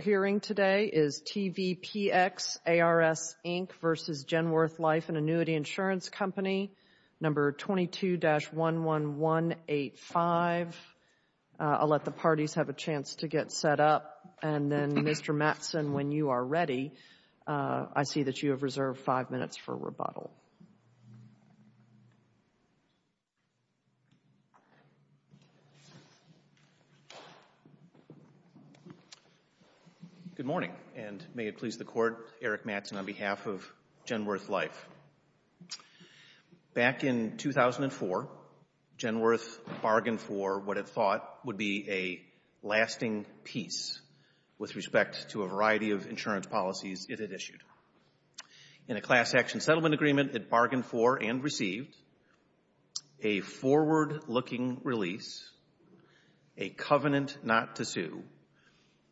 hearing today is TVPX ARS, Inc. v. Genworth Life and Annuity Insurance Company, number 22-11185. I'll let the parties have a chance to get set up, and then, Mr. Mattson, when you're ready for rebuttal. Good morning, and may it please the Court, Eric Mattson on behalf of Genworth Life. Back in 2004, Genworth bargained for what it thought would be a lasting peace with respect to a transaction settlement agreement it bargained for and received, a forward-looking release, a covenant not to sue,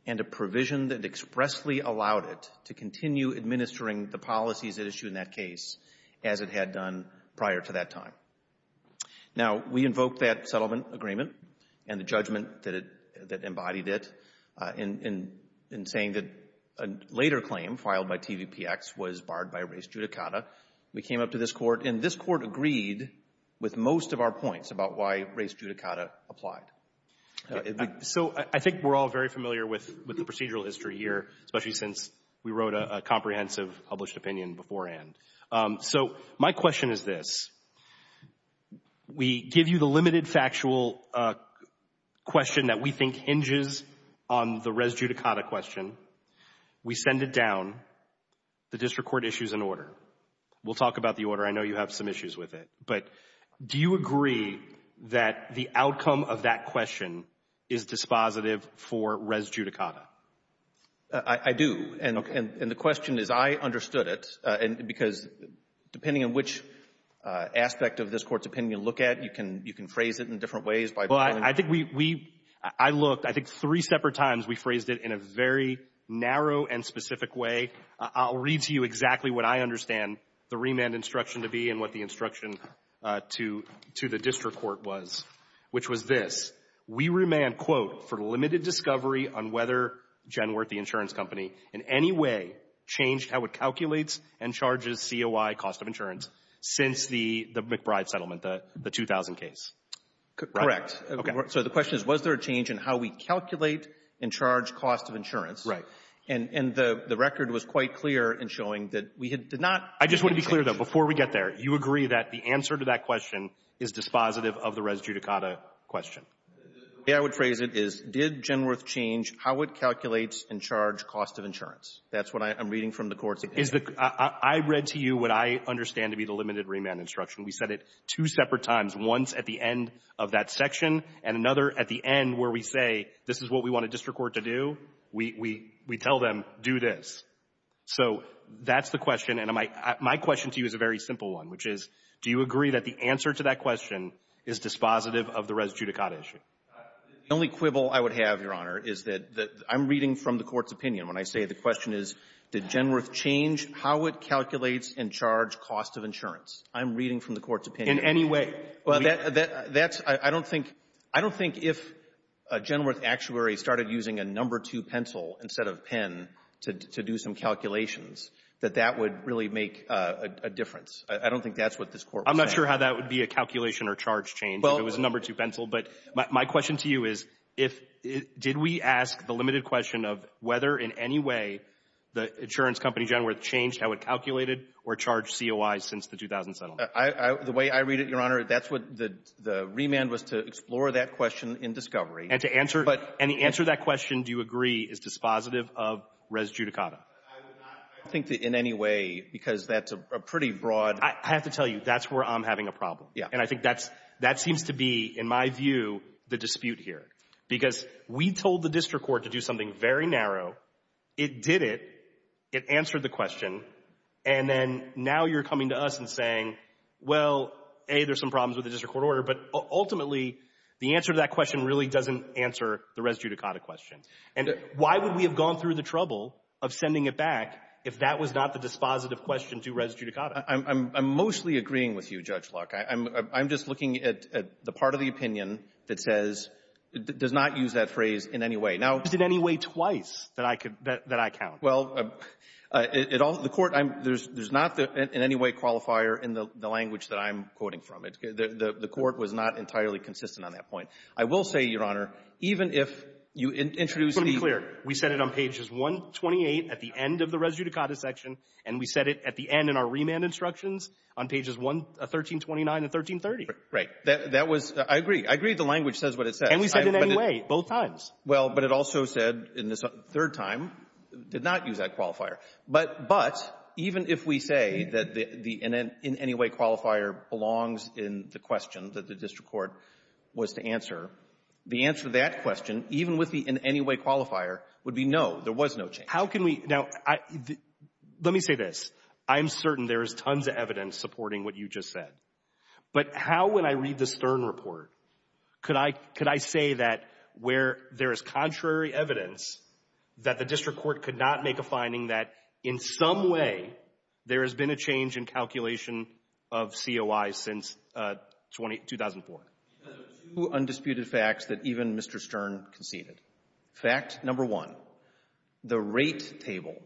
and a provision that expressly allowed it to continue administering the policies at issue in that case as it had done prior to that time. Now, we invoke that settlement agreement and the judgment that embodied it in saying that a later claim filed by TVPX was barred by res judicata. We came up to this Court, and this Court agreed with most of our points about why res judicata applied. So I think we're all very familiar with the procedural history here, especially since we wrote a comprehensive published opinion beforehand. So my question is this. We give you the limited factual question that we think hinges on the res judicata question. We send it down. The district court issues an order. We'll talk about the order. I know you have some issues with it. But do you agree that the outcome of that question is dispositive for res judicata? I do. And the question is, I understood it, because depending on which aspect of this Court's opinion you look at, you can phrase it in different ways by going to the court. I think we — I looked — I think three separate times we phrased it in a very narrow and specific way. I'll read to you exactly what I understand the remand instruction to be and what the instruction to the district court was, which was this. We remand, quote, for limited discovery on whether Jen Worthey Insurance Company in any way changed how it calculates and charges COI, cost of insurance, since the McBride settlement, the 2000 case. Correct. Okay. So the question is, was there a change in how we calculate and charge cost of insurance? Right. And the record was quite clear in showing that we had not — I just want to be clear, though. Before we get there, you agree that the answer to that question is dispositive of the res judicata question? The way I would phrase it is, did Jen Worth change how it calculates and charge cost of insurance? That's what I'm reading from the court's opinion. Is the — I read to you what I understand to be the limited remand instruction. We said it two separate times, once at the end of that section and another at the end where we say, this is what we want a district court to do. We tell them, do this. So that's the question. And my question to you is a very simple one, which is, do you agree that the answer to that question is dispositive of the res judicata issue? The only quibble I would have, Your Honor, is that — I'm reading from the court's opinion when I say the question is, did Jen Worth change how it calculates and charge cost of insurance? I'm reading from the court's opinion. In any way? That's — I don't think — I don't think if Jen Worth Actuary started using a number two pencil instead of pen to do some calculations, that that would really make a difference. I don't think that's what this Court was saying. I'm not sure how that would be a calculation or charge change if it was a number two pencil, but my question to you is, if — did we ask the limited question of whether in any way the insurance company Jen Worth changed how it calculated or charged COI since the 2007 law? I — the way I read it, Your Honor, that's what the — the remand was to explore that question in discovery. And to answer — and the answer to that question, do you agree, is dispositive of res judicata? I would not, I don't think that in any way, because that's a pretty broad — I have to tell you, that's where I'm having a problem. Yeah. And I think that's — that seems to be, in my view, the dispute here. Because we told the district court to do something very narrow. It did it. It answered the question. And then now you're coming to us and saying, well, A, there's some problems with the district court order. But ultimately, the answer to that question really doesn't answer the res judicata question. And why would we have gone through the trouble of sending it back if that was not the dispositive question to res judicata? I'm — I'm mostly agreeing with you, Judge Locke. I'm — I'm just looking at — at the part of the opinion that says — does not use that phrase in any way. Now — It's in any way twice that I could — that I count. Well, the Court — there's not in any way qualifier in the language that I'm quoting from. The Court was not entirely consistent on that point. I will say, Your Honor, even if you introduce the — Just to be clear, we said it on pages 128 at the end of the res judicata section, and we said it at the end in our remand instructions on pages 1329 and 1330. Right. That was — I agree. I agree the language says what it says. And we said it in any way, both times. Well, but it also said in this third time, did not use that qualifier. But — but even if we say that the — the in any way qualifier belongs in the question that the district court was to answer, the answer to that question, even with the in any way qualifier, would be no, there was no change. How can we — now, I — let me say this. I'm certain there is tons of evidence supporting what you just said. But how, when I read the Stern report, could I — could I say that where there is contrary evidence, that the district court could not make a finding that in some way there has been a change in calculation of COI since 2004? Because of two undisputed facts that even Mr. Stern conceded. Fact number one, the rate table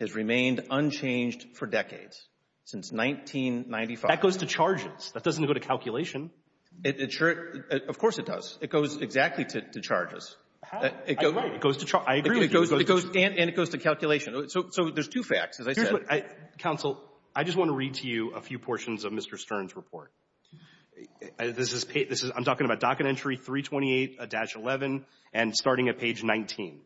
has remained unchanged for decades, since 1995. That goes to charges. That doesn't go to calculation. It sure — of course it does. It goes exactly to — to charges. It goes to — I agree with you. It goes — and it goes to calculation. So there's two facts, as I said. Counsel, I just want to read to you a few portions of Mr. Stern's report. This is — I'm talking about docket entry 328-11 and starting at page 19.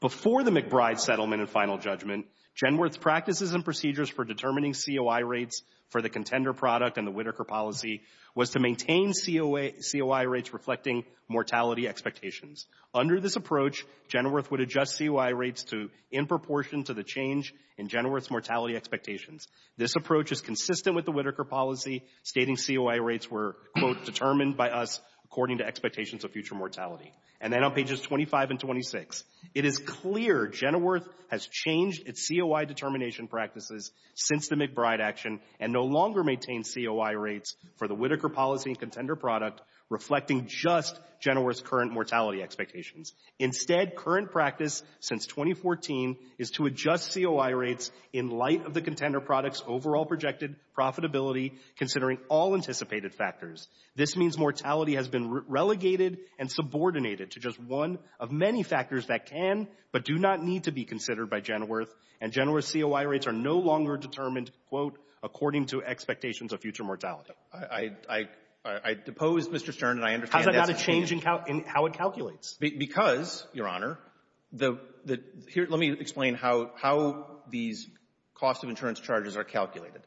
Before the McBride settlement and final judgment, Genworth's practices and procedures for determining COI rates for the contender product and the Whitaker policy was to maintain COI rates reflecting mortality expectations. Under this approach, Genworth would adjust COI rates to — in proportion to the change in Genworth's mortality expectations. This approach is consistent with the Whitaker policy, stating COI rates were, quote, determined by us according to expectations of future mortality. And then on pages 25 and 26, it is clear Genworth has changed its COI determination practices since the McBride action and no longer maintains COI rates for the Whitaker policy and contender product, reflecting just Genworth's current mortality expectations. Instead, current practice since 2014 is to adjust COI rates in light of the contender product's overall projected profitability, considering all anticipated factors. This means mortality has been relegated and subordinated to just one of many factors that can but do not need to be considered by Genworth, and Genworth's COI rates are no longer determined, quote, according to expectations of future mortality. I — I — I — I depose Mr. Stern, and I understand that's — How's that not a change in how — in how it calculates? Because, Your Honor, the — the — here, let me explain how — how these cost-of-insurance charges are calculated.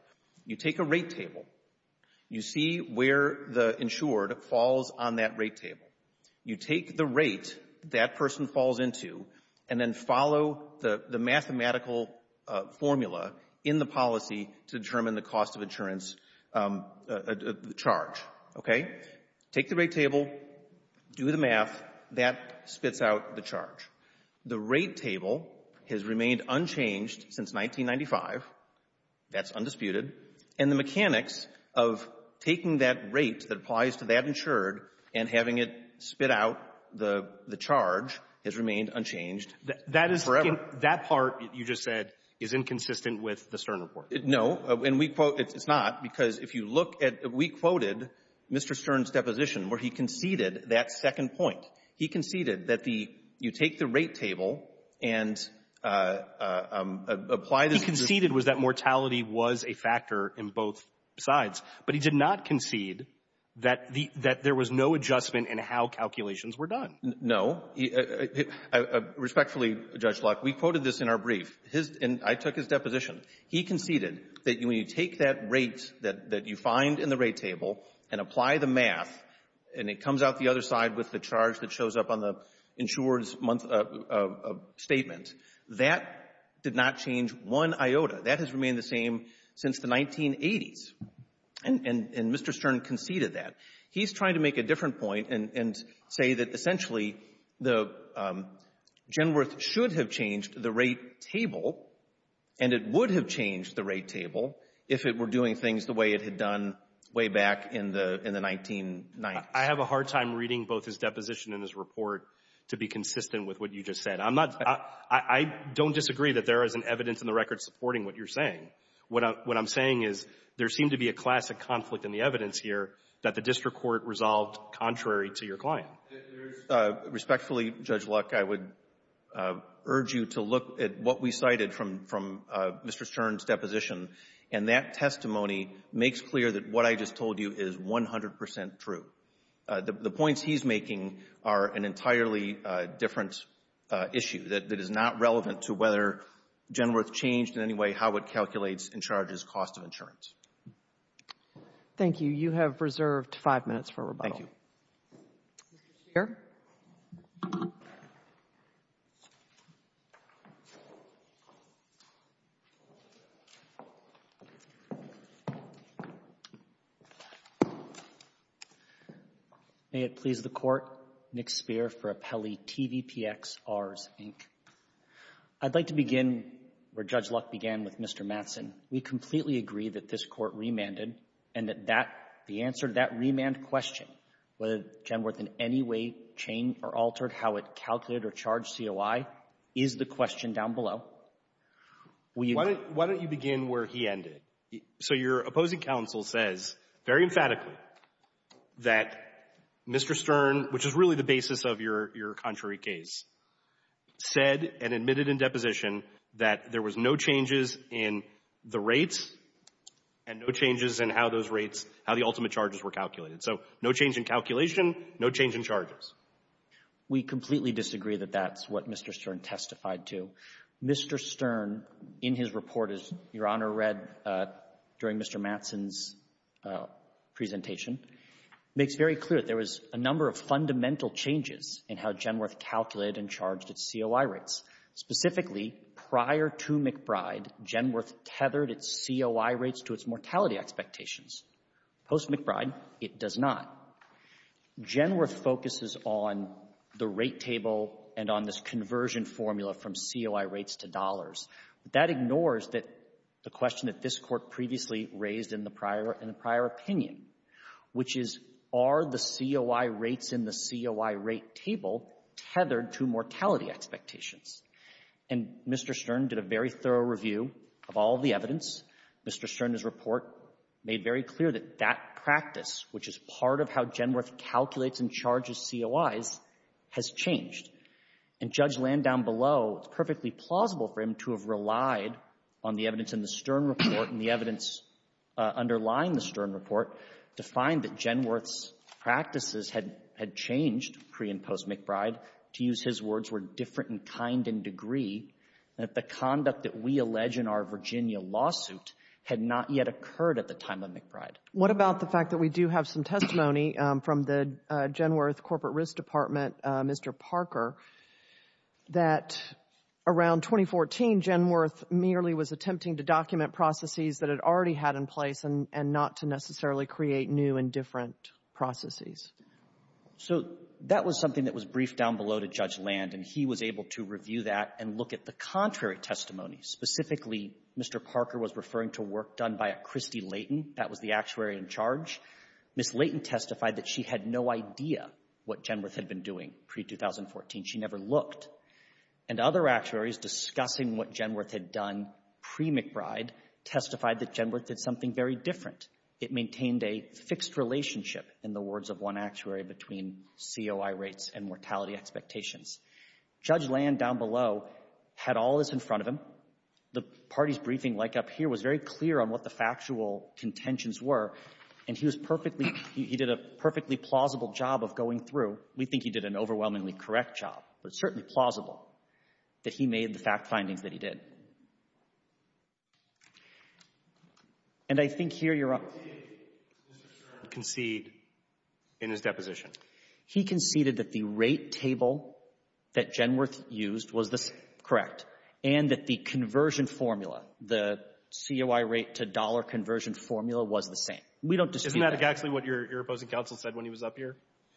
You take a rate table. You see where the insured falls on that rate table. You take the rate that person falls into and then follow the — the mathematical formula in the policy to determine the cost-of-insurance charge, okay? Take the rate table, do the math. That spits out the charge. The rate table has remained unchanged since 1995. That's undisputed. And the mechanics of taking that rate that applies to that insured and having it spit out the — the charge has remained unchanged forever. That is — that part you just said is inconsistent with the Stern report. No. And we quote — it's not, because if you look at — we quoted Mr. Stern's deposition where he conceded that second point. He conceded that the — you take the rate table and apply the — What he conceded was that mortality was a factor in both sides. But he did not concede that the — that there was no adjustment in how calculations were done. No. Respectfully, Judge Locke, we quoted this in our brief. His — and I took his deposition. He conceded that when you take that rate that — that you find in the rate table and apply the math and it comes out the other side with the charge that shows up on the insured's statement, that did not change one iota. That has remained the same since the 1980s. And Mr. Stern conceded that. He's trying to make a different point and say that, essentially, the — Genworth should have changed the rate table, and it would have changed the rate table if it were doing things the way it had done way back in the — in the 1990s. I have a hard time reading both his deposition and his report to be consistent with what you just said. I'm not — I don't disagree that there isn't evidence in the record supporting what you're saying. What I'm — what I'm saying is there seemed to be a classic conflict in the evidence here that the district court resolved contrary to your client. If there's — respectfully, Judge Locke, I would urge you to look at what we cited from — from Mr. Stern's deposition, and that testimony makes clear that what I just said is 100 percent true. The points he's making are an entirely different issue that is not relevant to whether Genworth changed in any way how it calculates and charges cost of insurance. Thank you. You have reserved five minutes for rebuttal. Thank you. Mr. Speier? May it please the Court, Nick Speier for Appellee TVPXRs, Inc. I'd like to begin where Judge Locke began with Mr. Mattson. We completely agree that this Court remanded, and that that — the answer to that remand question, whether Genworth in any way changed or altered how it calculated or charged COI, is the question down below. We — Why don't — why don't you begin where he ended? So your opposing counsel says very emphatically that Mr. Stern, which is really the basis of your — your contrary case, said and admitted in deposition that there was no changes in the rates and no changes in how those rates — how the ultimate charges were calculated. So no change in calculation, no change in charges. We completely disagree that that's what Mr. Stern testified to. Mr. Stern, in his report, as Your Honor read during Mr. Mattson's presentation, makes very clear that there was a number of fundamental changes in how Genworth calculated and charged its COI rates. Specifically, prior to McBride, Genworth tethered its COI rates to its mortality expectations. Post-McBride, it does not. Genworth focuses on the rate table and on this conversion formula from COI rates to dollars. But that ignores that — the question that this Court previously raised in the prior — in the prior opinion, which is, are the COI rates in the COI rate table tethered to mortality expectations? And Mr. Stern did a very thorough review of all of the evidence. Mr. Stern, his report, made very clear that that part of how Genworth calculates and charges COIs has changed. And Judge Landau below, it's perfectly plausible for him to have relied on the evidence in the Stern report and the evidence underlying the Stern report to find that Genworth's practices had — had changed pre- and post-McBride, to use his words, were different in kind and degree, that the conduct that we allege in our Virginia lawsuit had not yet occurred at the time of McBride. What about the fact that we do have some testimony from the Genworth Corporate Risk Department, Mr. Parker, that around 2014, Genworth merely was attempting to document processes that it already had in place and not to necessarily create new and different processes? So that was something that was briefed down below to Judge Land, and he was able to review that and look at the contrary testimony. Specifically, Mr. Parker was the actuary in charge. Ms. Layton testified that she had no idea what Genworth had been doing pre-2014. She never looked. And other actuaries discussing what Genworth had done pre-McBride testified that Genworth did something very different. It maintained a fixed relationship, in the words of one actuary, between COI rates and mortality expectations. Judge Land, down below, had all this in front of him. The party's briefing, like up here, was very clear on what the factual contentions were, and he was perfectly — he did a perfectly plausible job of going through. We think he did an overwhelmingly correct job, but certainly plausible, that he made the fact findings that he did. And I think here you're — What did Mr. Stern concede in his deposition? He conceded that the rate table that Genworth used was correct, and that the conversion formula, the COI rate-to-dollar conversion formula, was the same. We don't disagree. Isn't that exactly what your opposing counsel said when he was up here?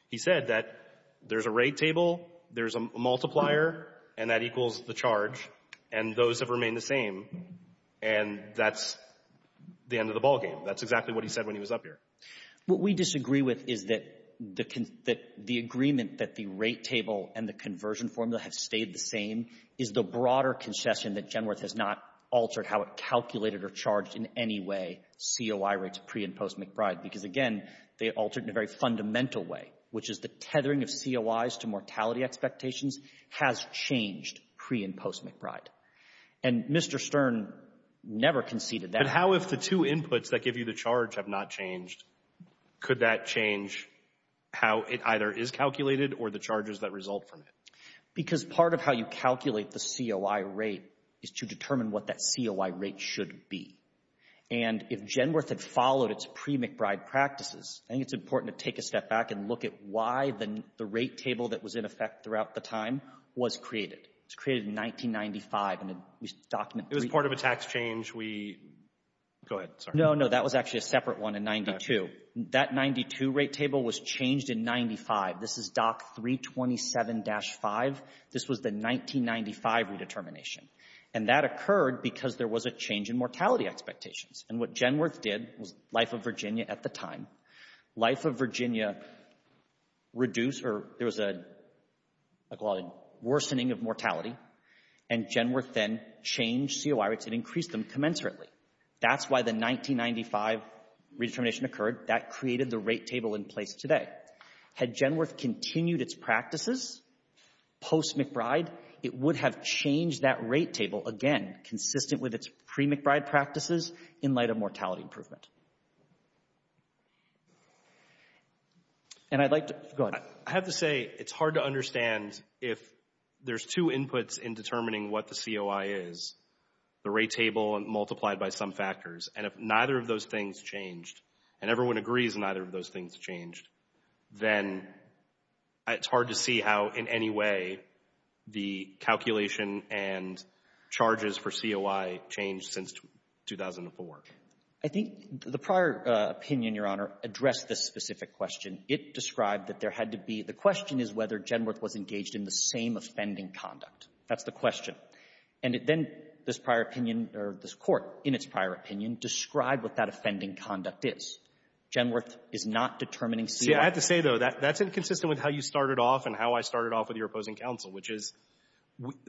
He said that there's a rate table, there's a multiplier, and that equals the charge, and those have remained the same, and that's the end of the ballgame. That's exactly what he said when he was up here. What we disagree with is that the agreement that the rate table and the conversion formula have stayed the same is the broader concession that Genworth has not altered how it calculated or charged in any way COI rates pre- and post-McBride, because, again, they altered in a very fundamental way, which is the tethering of COIs to mortality expectations has changed pre- and post-McBride. And Mr. Stern never conceded that. But how, if the two inputs that give you the charge have not changed, could that change how it either is calculated or the charges that result from it? Because part of how you calculate the COI rate is to determine what that COI rate should be. And if Genworth had followed its pre-McBride practices, I think it's important to take a step back and look at why the rate table that was in effect throughout the time was created. It was created in 1995, and we document— It was part of a tax change we—go ahead, sorry. No, no, that was actually a separate one in 92. That 92 rate table was changed in 95. This is DOC 327-5. This was the 1995 redetermination. And that occurred because there was a change in mortality expectations. And what Genworth did was Life of Virginia at the time, Life of Virginia reduced or there was a worsening of mortality, and Genworth then changed COI rates and increased them commensurately. That's why the 1995 redetermination occurred. That created the rate table in place today. Had Genworth continued its practices post-McBride, it would have changed that rate table, again, consistent with its pre-McBride practices in light of mortality improvement. And I'd like to—go ahead. I have to say it's hard to understand if there's two inputs in determining what the COI is, the rate table multiplied by some factors, and if neither of those things changed, and everyone agrees neither of those things changed, then it's hard to see how in any way the calculation and charges for COI changed since 2004. I think the prior opinion, Your Honor, addressed this specific question. It described that there had to be — the question is whether Genworth was engaged in the same offending conduct. That's the question. And then this prior opinion, or this Court, in its prior opinion, described what that offending conduct is. Genworth is not determining COI. See, I have to say, though, that's inconsistent with how you started off and how I started off with your opposing counsel, which is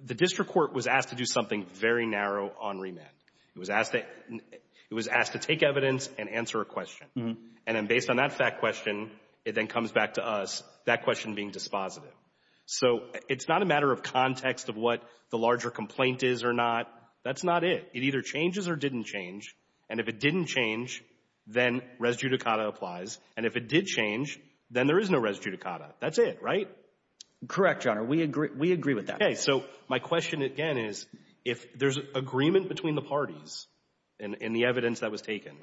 the district court was asked to do something very narrow on remand. It was asked to take evidence and answer a question. And then based on that fact question, it then comes back to us, that question being dispositive. So it's not a matter of context of what the larger complaint is or not. That's not it. It either changes or didn't change. And if it didn't change, then res judicata applies. And if it did change, then there is no res judicata. That's it, right? Correct, Your Honor. We agree with that. Okay. So my question again is, if there's agreement between the parties in the evidence that was taken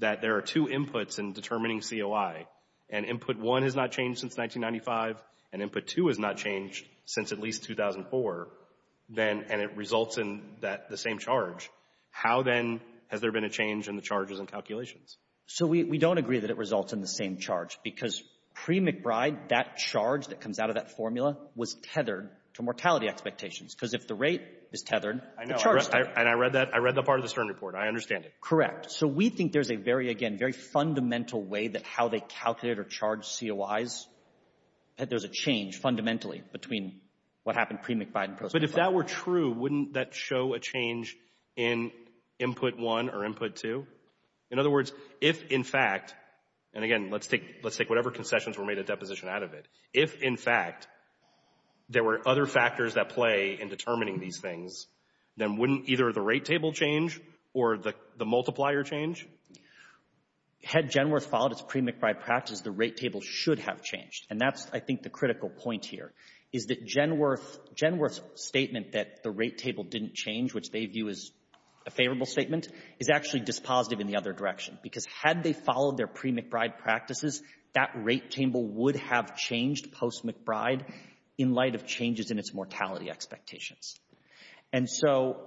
that there are two inputs in determining COI, and Input 1 has not changed since 1995, and Input 2 has not changed since at least 2004, and it results in the same charge, how then has there been a change in the charges and calculations? So we don't agree that it results in the same charge, because pre-McBride, that charge that comes out of that formula was tethered to mortality expectations. Because if the rate is tethered, the charge is tethered. And I read that part of the Stern report. I understand it. Correct. So we think there's a very, again, very fundamental way that how they calculate or charge COIs, that there's a change fundamentally between what happened pre-McBride and post-McBride. But if that were true, wouldn't that show a change in Input 1 or Input 2? In other words, if, in fact, and again, let's take whatever concessions were made a deposition out of it. If, in fact, there were other factors that play in determining these things, then wouldn't either the rate table change or the multiplier change? Had Genworth followed its pre-McBride practice, the rate table should have changed. And that's, I think, the critical point here, is that Genworth's statement that the rate table didn't change, which they view as a favorable statement, is actually dispositive in the other direction. Because had they followed their pre-McBride practices, that rate table would have changed post-McBride in light of changes in its mortality expectations. And so,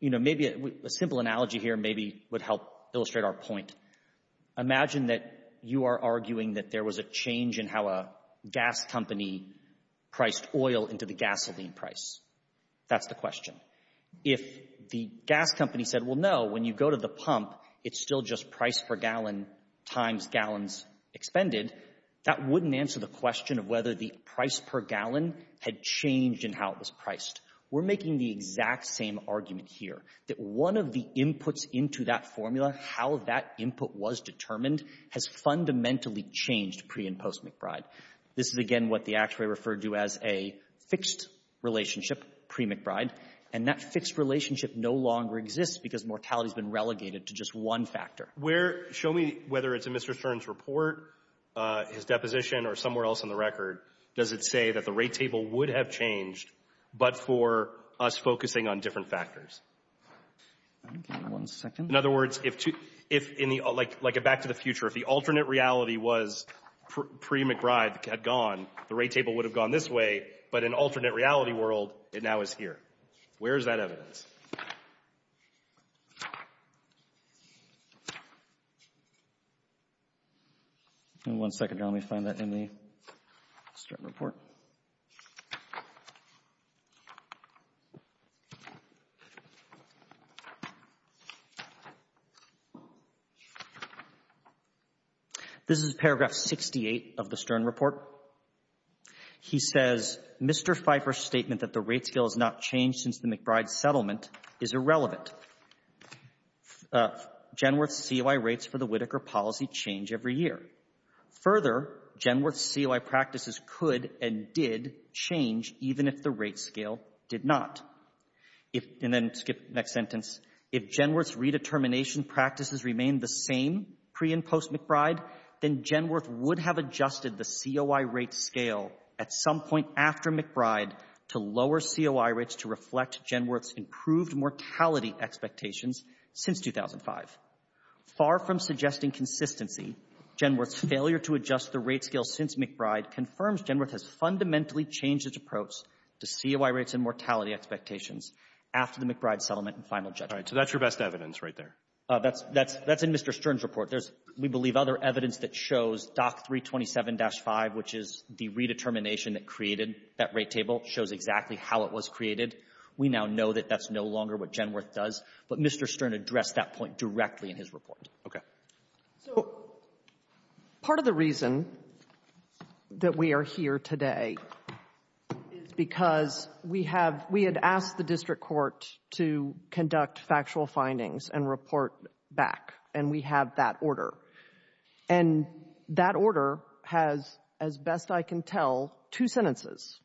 you know, maybe a simple analogy here maybe would help illustrate our point. Imagine that you are arguing that there was a change in how a gas company priced oil into the gasoline price. That's the question. If the gas company said, well, no, when you go to the pump, it's still just price per gallon times gallons expended, that wouldn't answer the question of whether the price per gallon had changed in how it was priced. We're making the exact same argument here, that one of the inputs into that formula, how that input was determined, has fundamentally changed pre- and post-McBride. This is, again, what the actuary referred to as a fixed relationship pre-McBride. And that fixed relationship no longer exists because mortality has been relegated to just one factor. Show me whether it's in Mr. Stern's report, his deposition, or somewhere else on the record, does it say that the rate table would have changed, but for us focusing on different factors? Give me one second. In other words, like a back to the future, if the alternate reality was pre-McBride had gone, the rate table would have gone this way, but in alternate reality world, it now is here. Where is that evidence? Give me one second. Let me find that in the Stern report. This is paragraph 68 of the Stern report. He says, Mr. Pfeiffer's statement that the rate scale has not changed since the McBride settlement is irrelevant. Genworth's COI rates for the Whitaker policy change every year. Further, Genworth's COI practices could and did change even if the rate scale did not. And then skip the next sentence. If Genworth's redetermination practices remain the same pre- and post-McBride, then Genworth would have adjusted the COI rate scale at some point after McBride to lower COI rates to reflect Genworth's improved mortality expectations since 2005. Far from suggesting consistency, Genworth's failure to adjust the rate scale since McBride confirms Genworth has fundamentally changed its approach to COI rates and mortality expectations after the McBride settlement and final judgment. All right. So that's your best evidence right there. That's in Mr. Stern's report. There's, we believe, other evidence that shows DOC 327-5, which is the redetermination that created that rate table, shows exactly how it was created. We now know that that's no longer what Genworth does. But Mr. Stern addressed that point directly in his report. Okay. So part of the reason that we are here today is because we have, we had asked the district court to conduct factual findings and report back, and we have that order. And that order has, as best I can tell, two sentences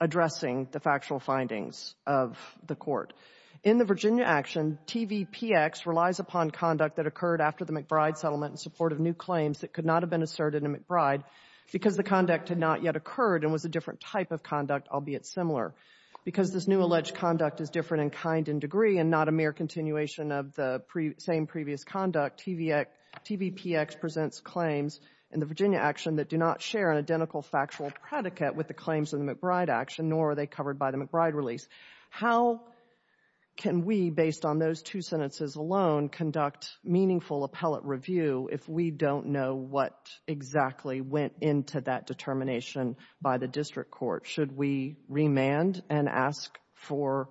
addressing the factual findings of the court. In the Virginia action, TVPX relies upon conduct that occurred after the McBride settlement in support of new claims that could not have been asserted in McBride because the conduct had not yet occurred and was a different type of conduct, albeit similar. Because this new alleged conduct is different in kind and degree and not a mere continuation of the same previous conduct, TVPX presents claims in the Virginia action that do not share an identical factual predicate with the claims in the McBride action, nor are they covered by the McBride release. How can we, based on those two sentences alone, conduct meaningful appellate review if we don't know what exactly went into that determination by the district court? Should we remand and ask for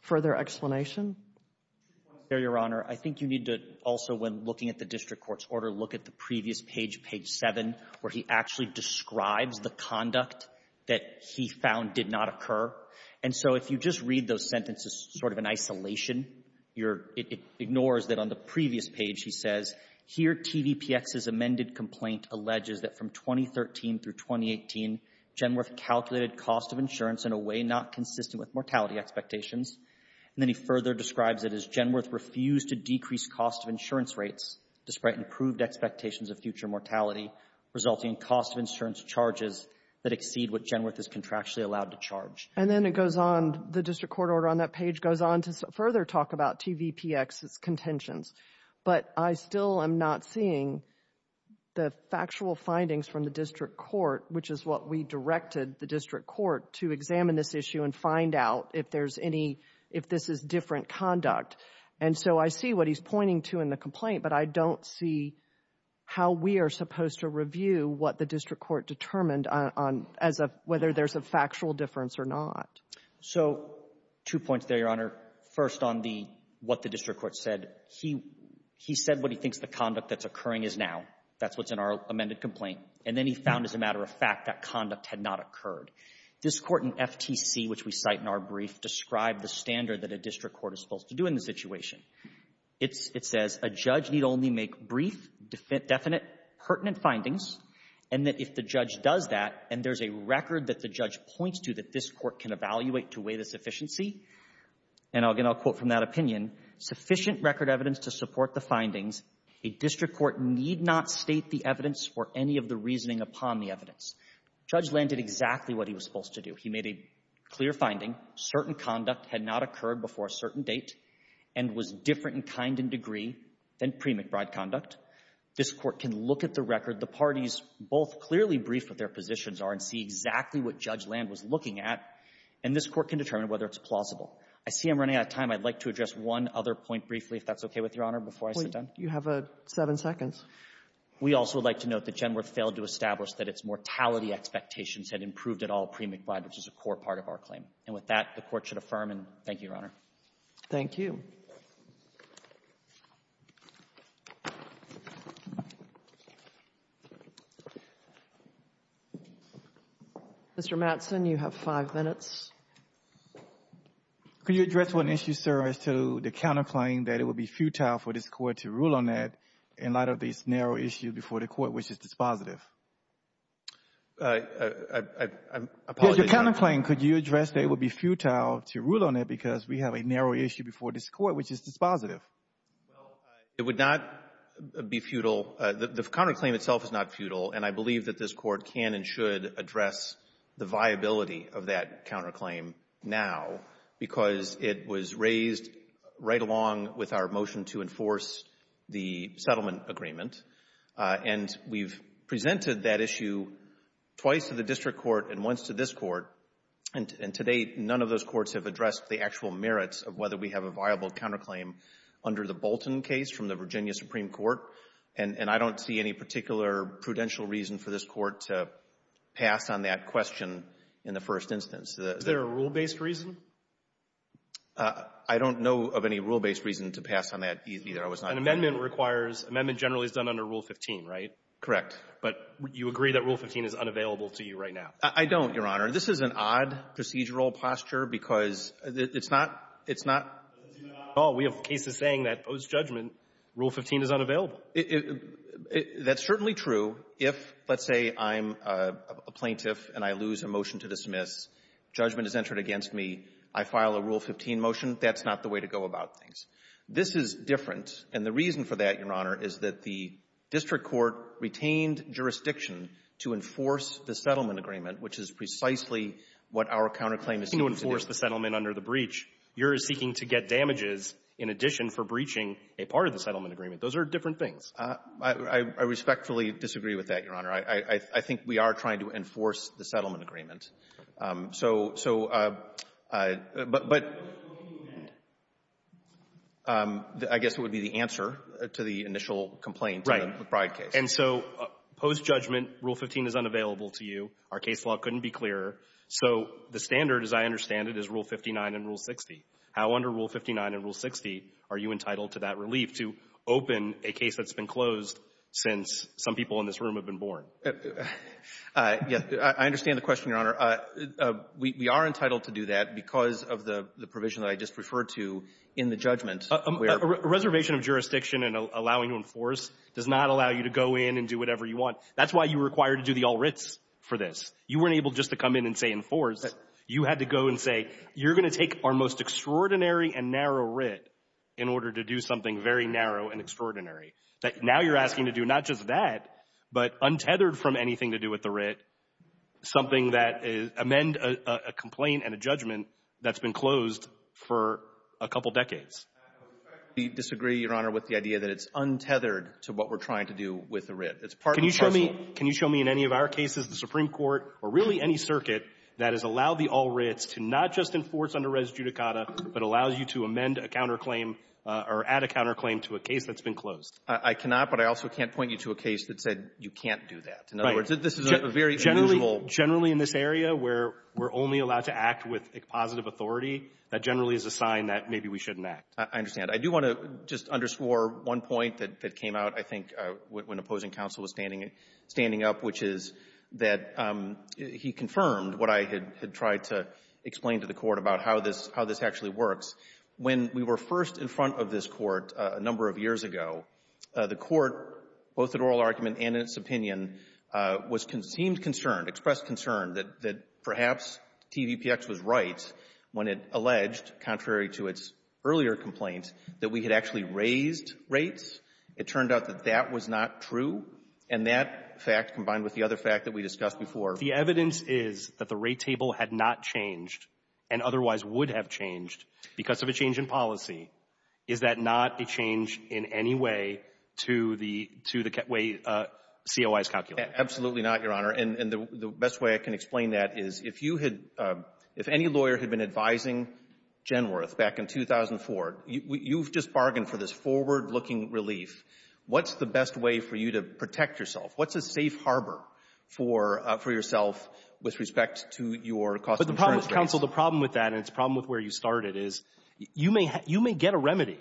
further explanation? I think you need to also, when looking at the district court's order, look at the previous page, page 7, where he actually describes the conduct that he found did not occur. And so if you just read those sentences sort of in isolation, you're — it ignores that on the previous page he says, here TVPX's amended complaint alleges that from 2013 through 2018, Genworth calculated cost of insurance in a way not consistent with mortality expectations. And then he further describes it as Genworth refused to decrease cost of insurance rates despite improved expectations of future mortality, resulting in cost of insurance charges that exceed what Genworth is contractually allowed to charge. And then it goes on, the district court order on that page goes on to further talk about TVPX's contentions. But I still am not seeing the factual findings from the district court, which is what we directed the district court to examine this issue and find out if there's any — if this is different conduct. And so I see what he's pointing to in the complaint, but I don't see how we are supposed to review what the district court determined on — as of whether there's a factual difference or not. So two points there, Your Honor. First, on the — what the district court said, he — he said what he thinks the conduct that's occurring is now. That's what's in our amended complaint. And then he found, as a matter of fact, that conduct had not occurred. This court in FTC, which we cite in our brief, described the standard that a district court is supposed to do in this situation. It's — it says a judge need only make brief, definite, pertinent findings, and that if the judge does that and there's a record that the judge points to that this And, again, I'll quote from that opinion. Sufficient record evidence to support the findings, a district court need not state the evidence or any of the reasoning upon the evidence. Judge Land did exactly what he was supposed to do. He made a clear finding. Certain conduct had not occurred before a certain date and was different in kind and degree than pre-McBride conduct. This court can look at the record. The parties both clearly briefed what their positions are and see exactly what Judge Land was looking at, and this court can determine whether it's plausible. I see I'm running out of time. I'd like to address one other point briefly, if that's okay with Your Honor, before I sit down. You have seven seconds. We also would like to note that Genworth failed to establish that its mortality expectations had improved at all pre-McBride, which is a core part of our claim. And with that, the Court should affirm. And thank you, Your Honor. Thank you. Mr. Mattson, you have five minutes. Could you address one issue, sir, as to the counterclaim that it would be futile for this Court to rule on that in light of this narrow issue before the Court, which is dispositive? I apologize. The counterclaim, could you address that it would be futile to rule on it because we have a narrow issue before this Court, which is dispositive? Well, it would not be futile. The counterclaim itself is not futile, and I believe that this Court can and should address the viability of that counterclaim now, because it was raised right along with our motion to enforce the settlement agreement. And we've presented that issue twice to the District Court and once to this Court, and to date, none of those courts have addressed the actual merits of whether we have a viable counterclaim under the Bolton case from the Virginia Supreme Court. And I don't see any particular prudential reason for this Court to pass on that question in the first instance. Is there a rule-based reason? I don't know of any rule-based reason to pass on that either. An amendment requires — amendment generally is done under Rule 15, right? Correct. But you agree that Rule 15 is unavailable to you right now? I don't, Your Honor. This is an odd procedural posture, because it's not — it's not at all. We have cases saying that post-judgment, Rule 15 is unavailable. That's certainly true if, let's say, I'm a plaintiff and I lose a motion to dismiss. Judgment is entered against me. I file a Rule 15 motion. That's not the way to go about things. This is different. And the reason for that, Your Honor, is that the District Court retained jurisdiction to enforce the settlement agreement, which is precisely what our counterclaim is seeking to do. In addition for breaching a part of the settlement agreement. Those are different things. I respectfully disagree with that, Your Honor. I think we are trying to enforce the settlement agreement. So — so — but — but I guess it would be the answer to the initial complaint in the McBride case. And so post-judgment, Rule 15 is unavailable to you. Our case law couldn't be clearer. So the standard, as I understand it, is Rule 59 and Rule 60. How, under Rule 59 and Rule 60, are you entitled to that relief to open a case that's been closed since some people in this room have been born? Yeah. I understand the question, Your Honor. We are entitled to do that because of the provision that I just referred to in the judgment where — A reservation of jurisdiction and allowing to enforce does not allow you to go in and do whatever you want. That's why you were required to do the all writs for this. You weren't able just to come in and say enforce. You had to go and say, you're going to take our most extraordinary and narrow writ in order to do something very narrow and extraordinary. That now you're asking to do not just that, but untethered from anything to do with the writ, something that is — amend a — a complaint and a judgment that's been closed for a couple decades. I respectfully disagree, Your Honor, with the idea that it's untethered to what we're trying to do with the writ. It's part and parcel — Can you show me — can you show me in any of our cases, the Supreme Court, or really any circuit that has allowed the all writs to not just enforce under res judicata, but allows you to amend a counterclaim or add a counterclaim to a case that's been closed? I cannot, but I also can't point you to a case that said you can't do that. Right. In other words, this is a very unusual — Generally in this area where we're only allowed to act with positive authority, that generally is a sign that maybe we shouldn't act. I understand. I do want to just underscore one point that came out, I think, when opposing counsel was standing — standing up, which is that he confirmed what I had tried to explain to the Court about how this — how this actually works. When we were first in front of this Court a number of years ago, the Court, both at oral argument and in its opinion, was — seemed concerned, expressed concern that perhaps TVPX was right when it alleged, contrary to its earlier complaint, that we had actually raised rates. It turned out that that was not true, and that fact, combined with the other fact that we discussed before — The evidence is that the rate table had not changed and otherwise would have changed because of a change in policy. Is that not a change in any way to the — to the way COI is calculated? Absolutely not, Your Honor. And the best way I can explain that is if you had — if any lawyer had been advising Genworth back in 2004, you've just bargained for this forward-looking relief. What's the best way for you to protect yourself? What's a safe harbor for — for yourself with respect to your cost insurance rates? Counsel, the problem with that, and it's a problem with where you started, is you may — you may get a remedy.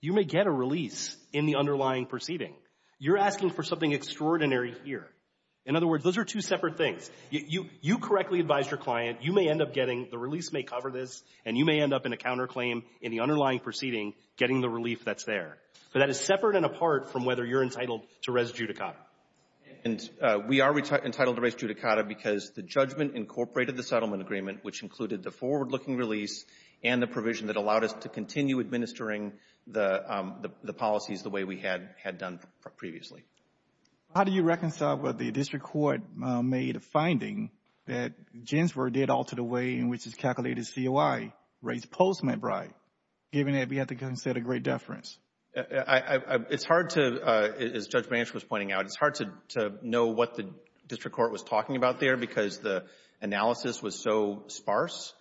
You may get a release in the underlying proceeding. You're asking for something extraordinary here. In other words, those are two separate things. You correctly advised your client. You may end up getting — the release may cover this, and you may end up in a counterclaim in the underlying proceeding getting the relief that's there. But that is separate and apart from whether you're entitled to res judicata. And we are entitled to res judicata because the judgment incorporated the settlement agreement, which included the forward-looking release and the provision that allowed us to continue administering the — the policies the way we had — had done previously. How do you reconcile what the district court made a finding that Ginsburg did alter the way in which it calculated COI rates post-Medbride, given that we have to consider great deference? It's hard to — as Judge Branch was pointing out, it's hard to — to know what the district court was talking about there because the analysis was so sparse.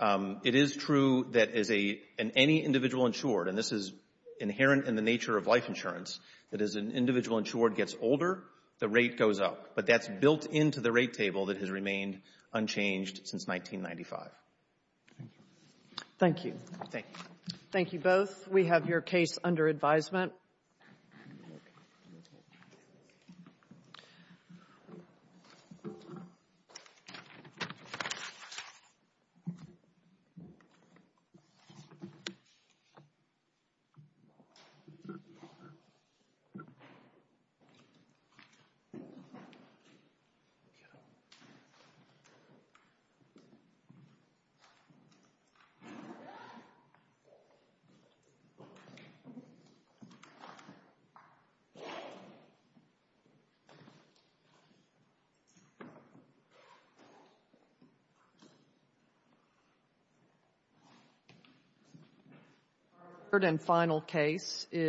It is true that as a — in any individual insured, and this is inherent in the nature of life insurance, that as an individual insured gets older, the rate goes up. But that's built into the rate table that has remained unchanged since 1995. Thank you. Thank you. Thank you. Thank you both. We have your case under advisement. Thank you. Our third and final case is —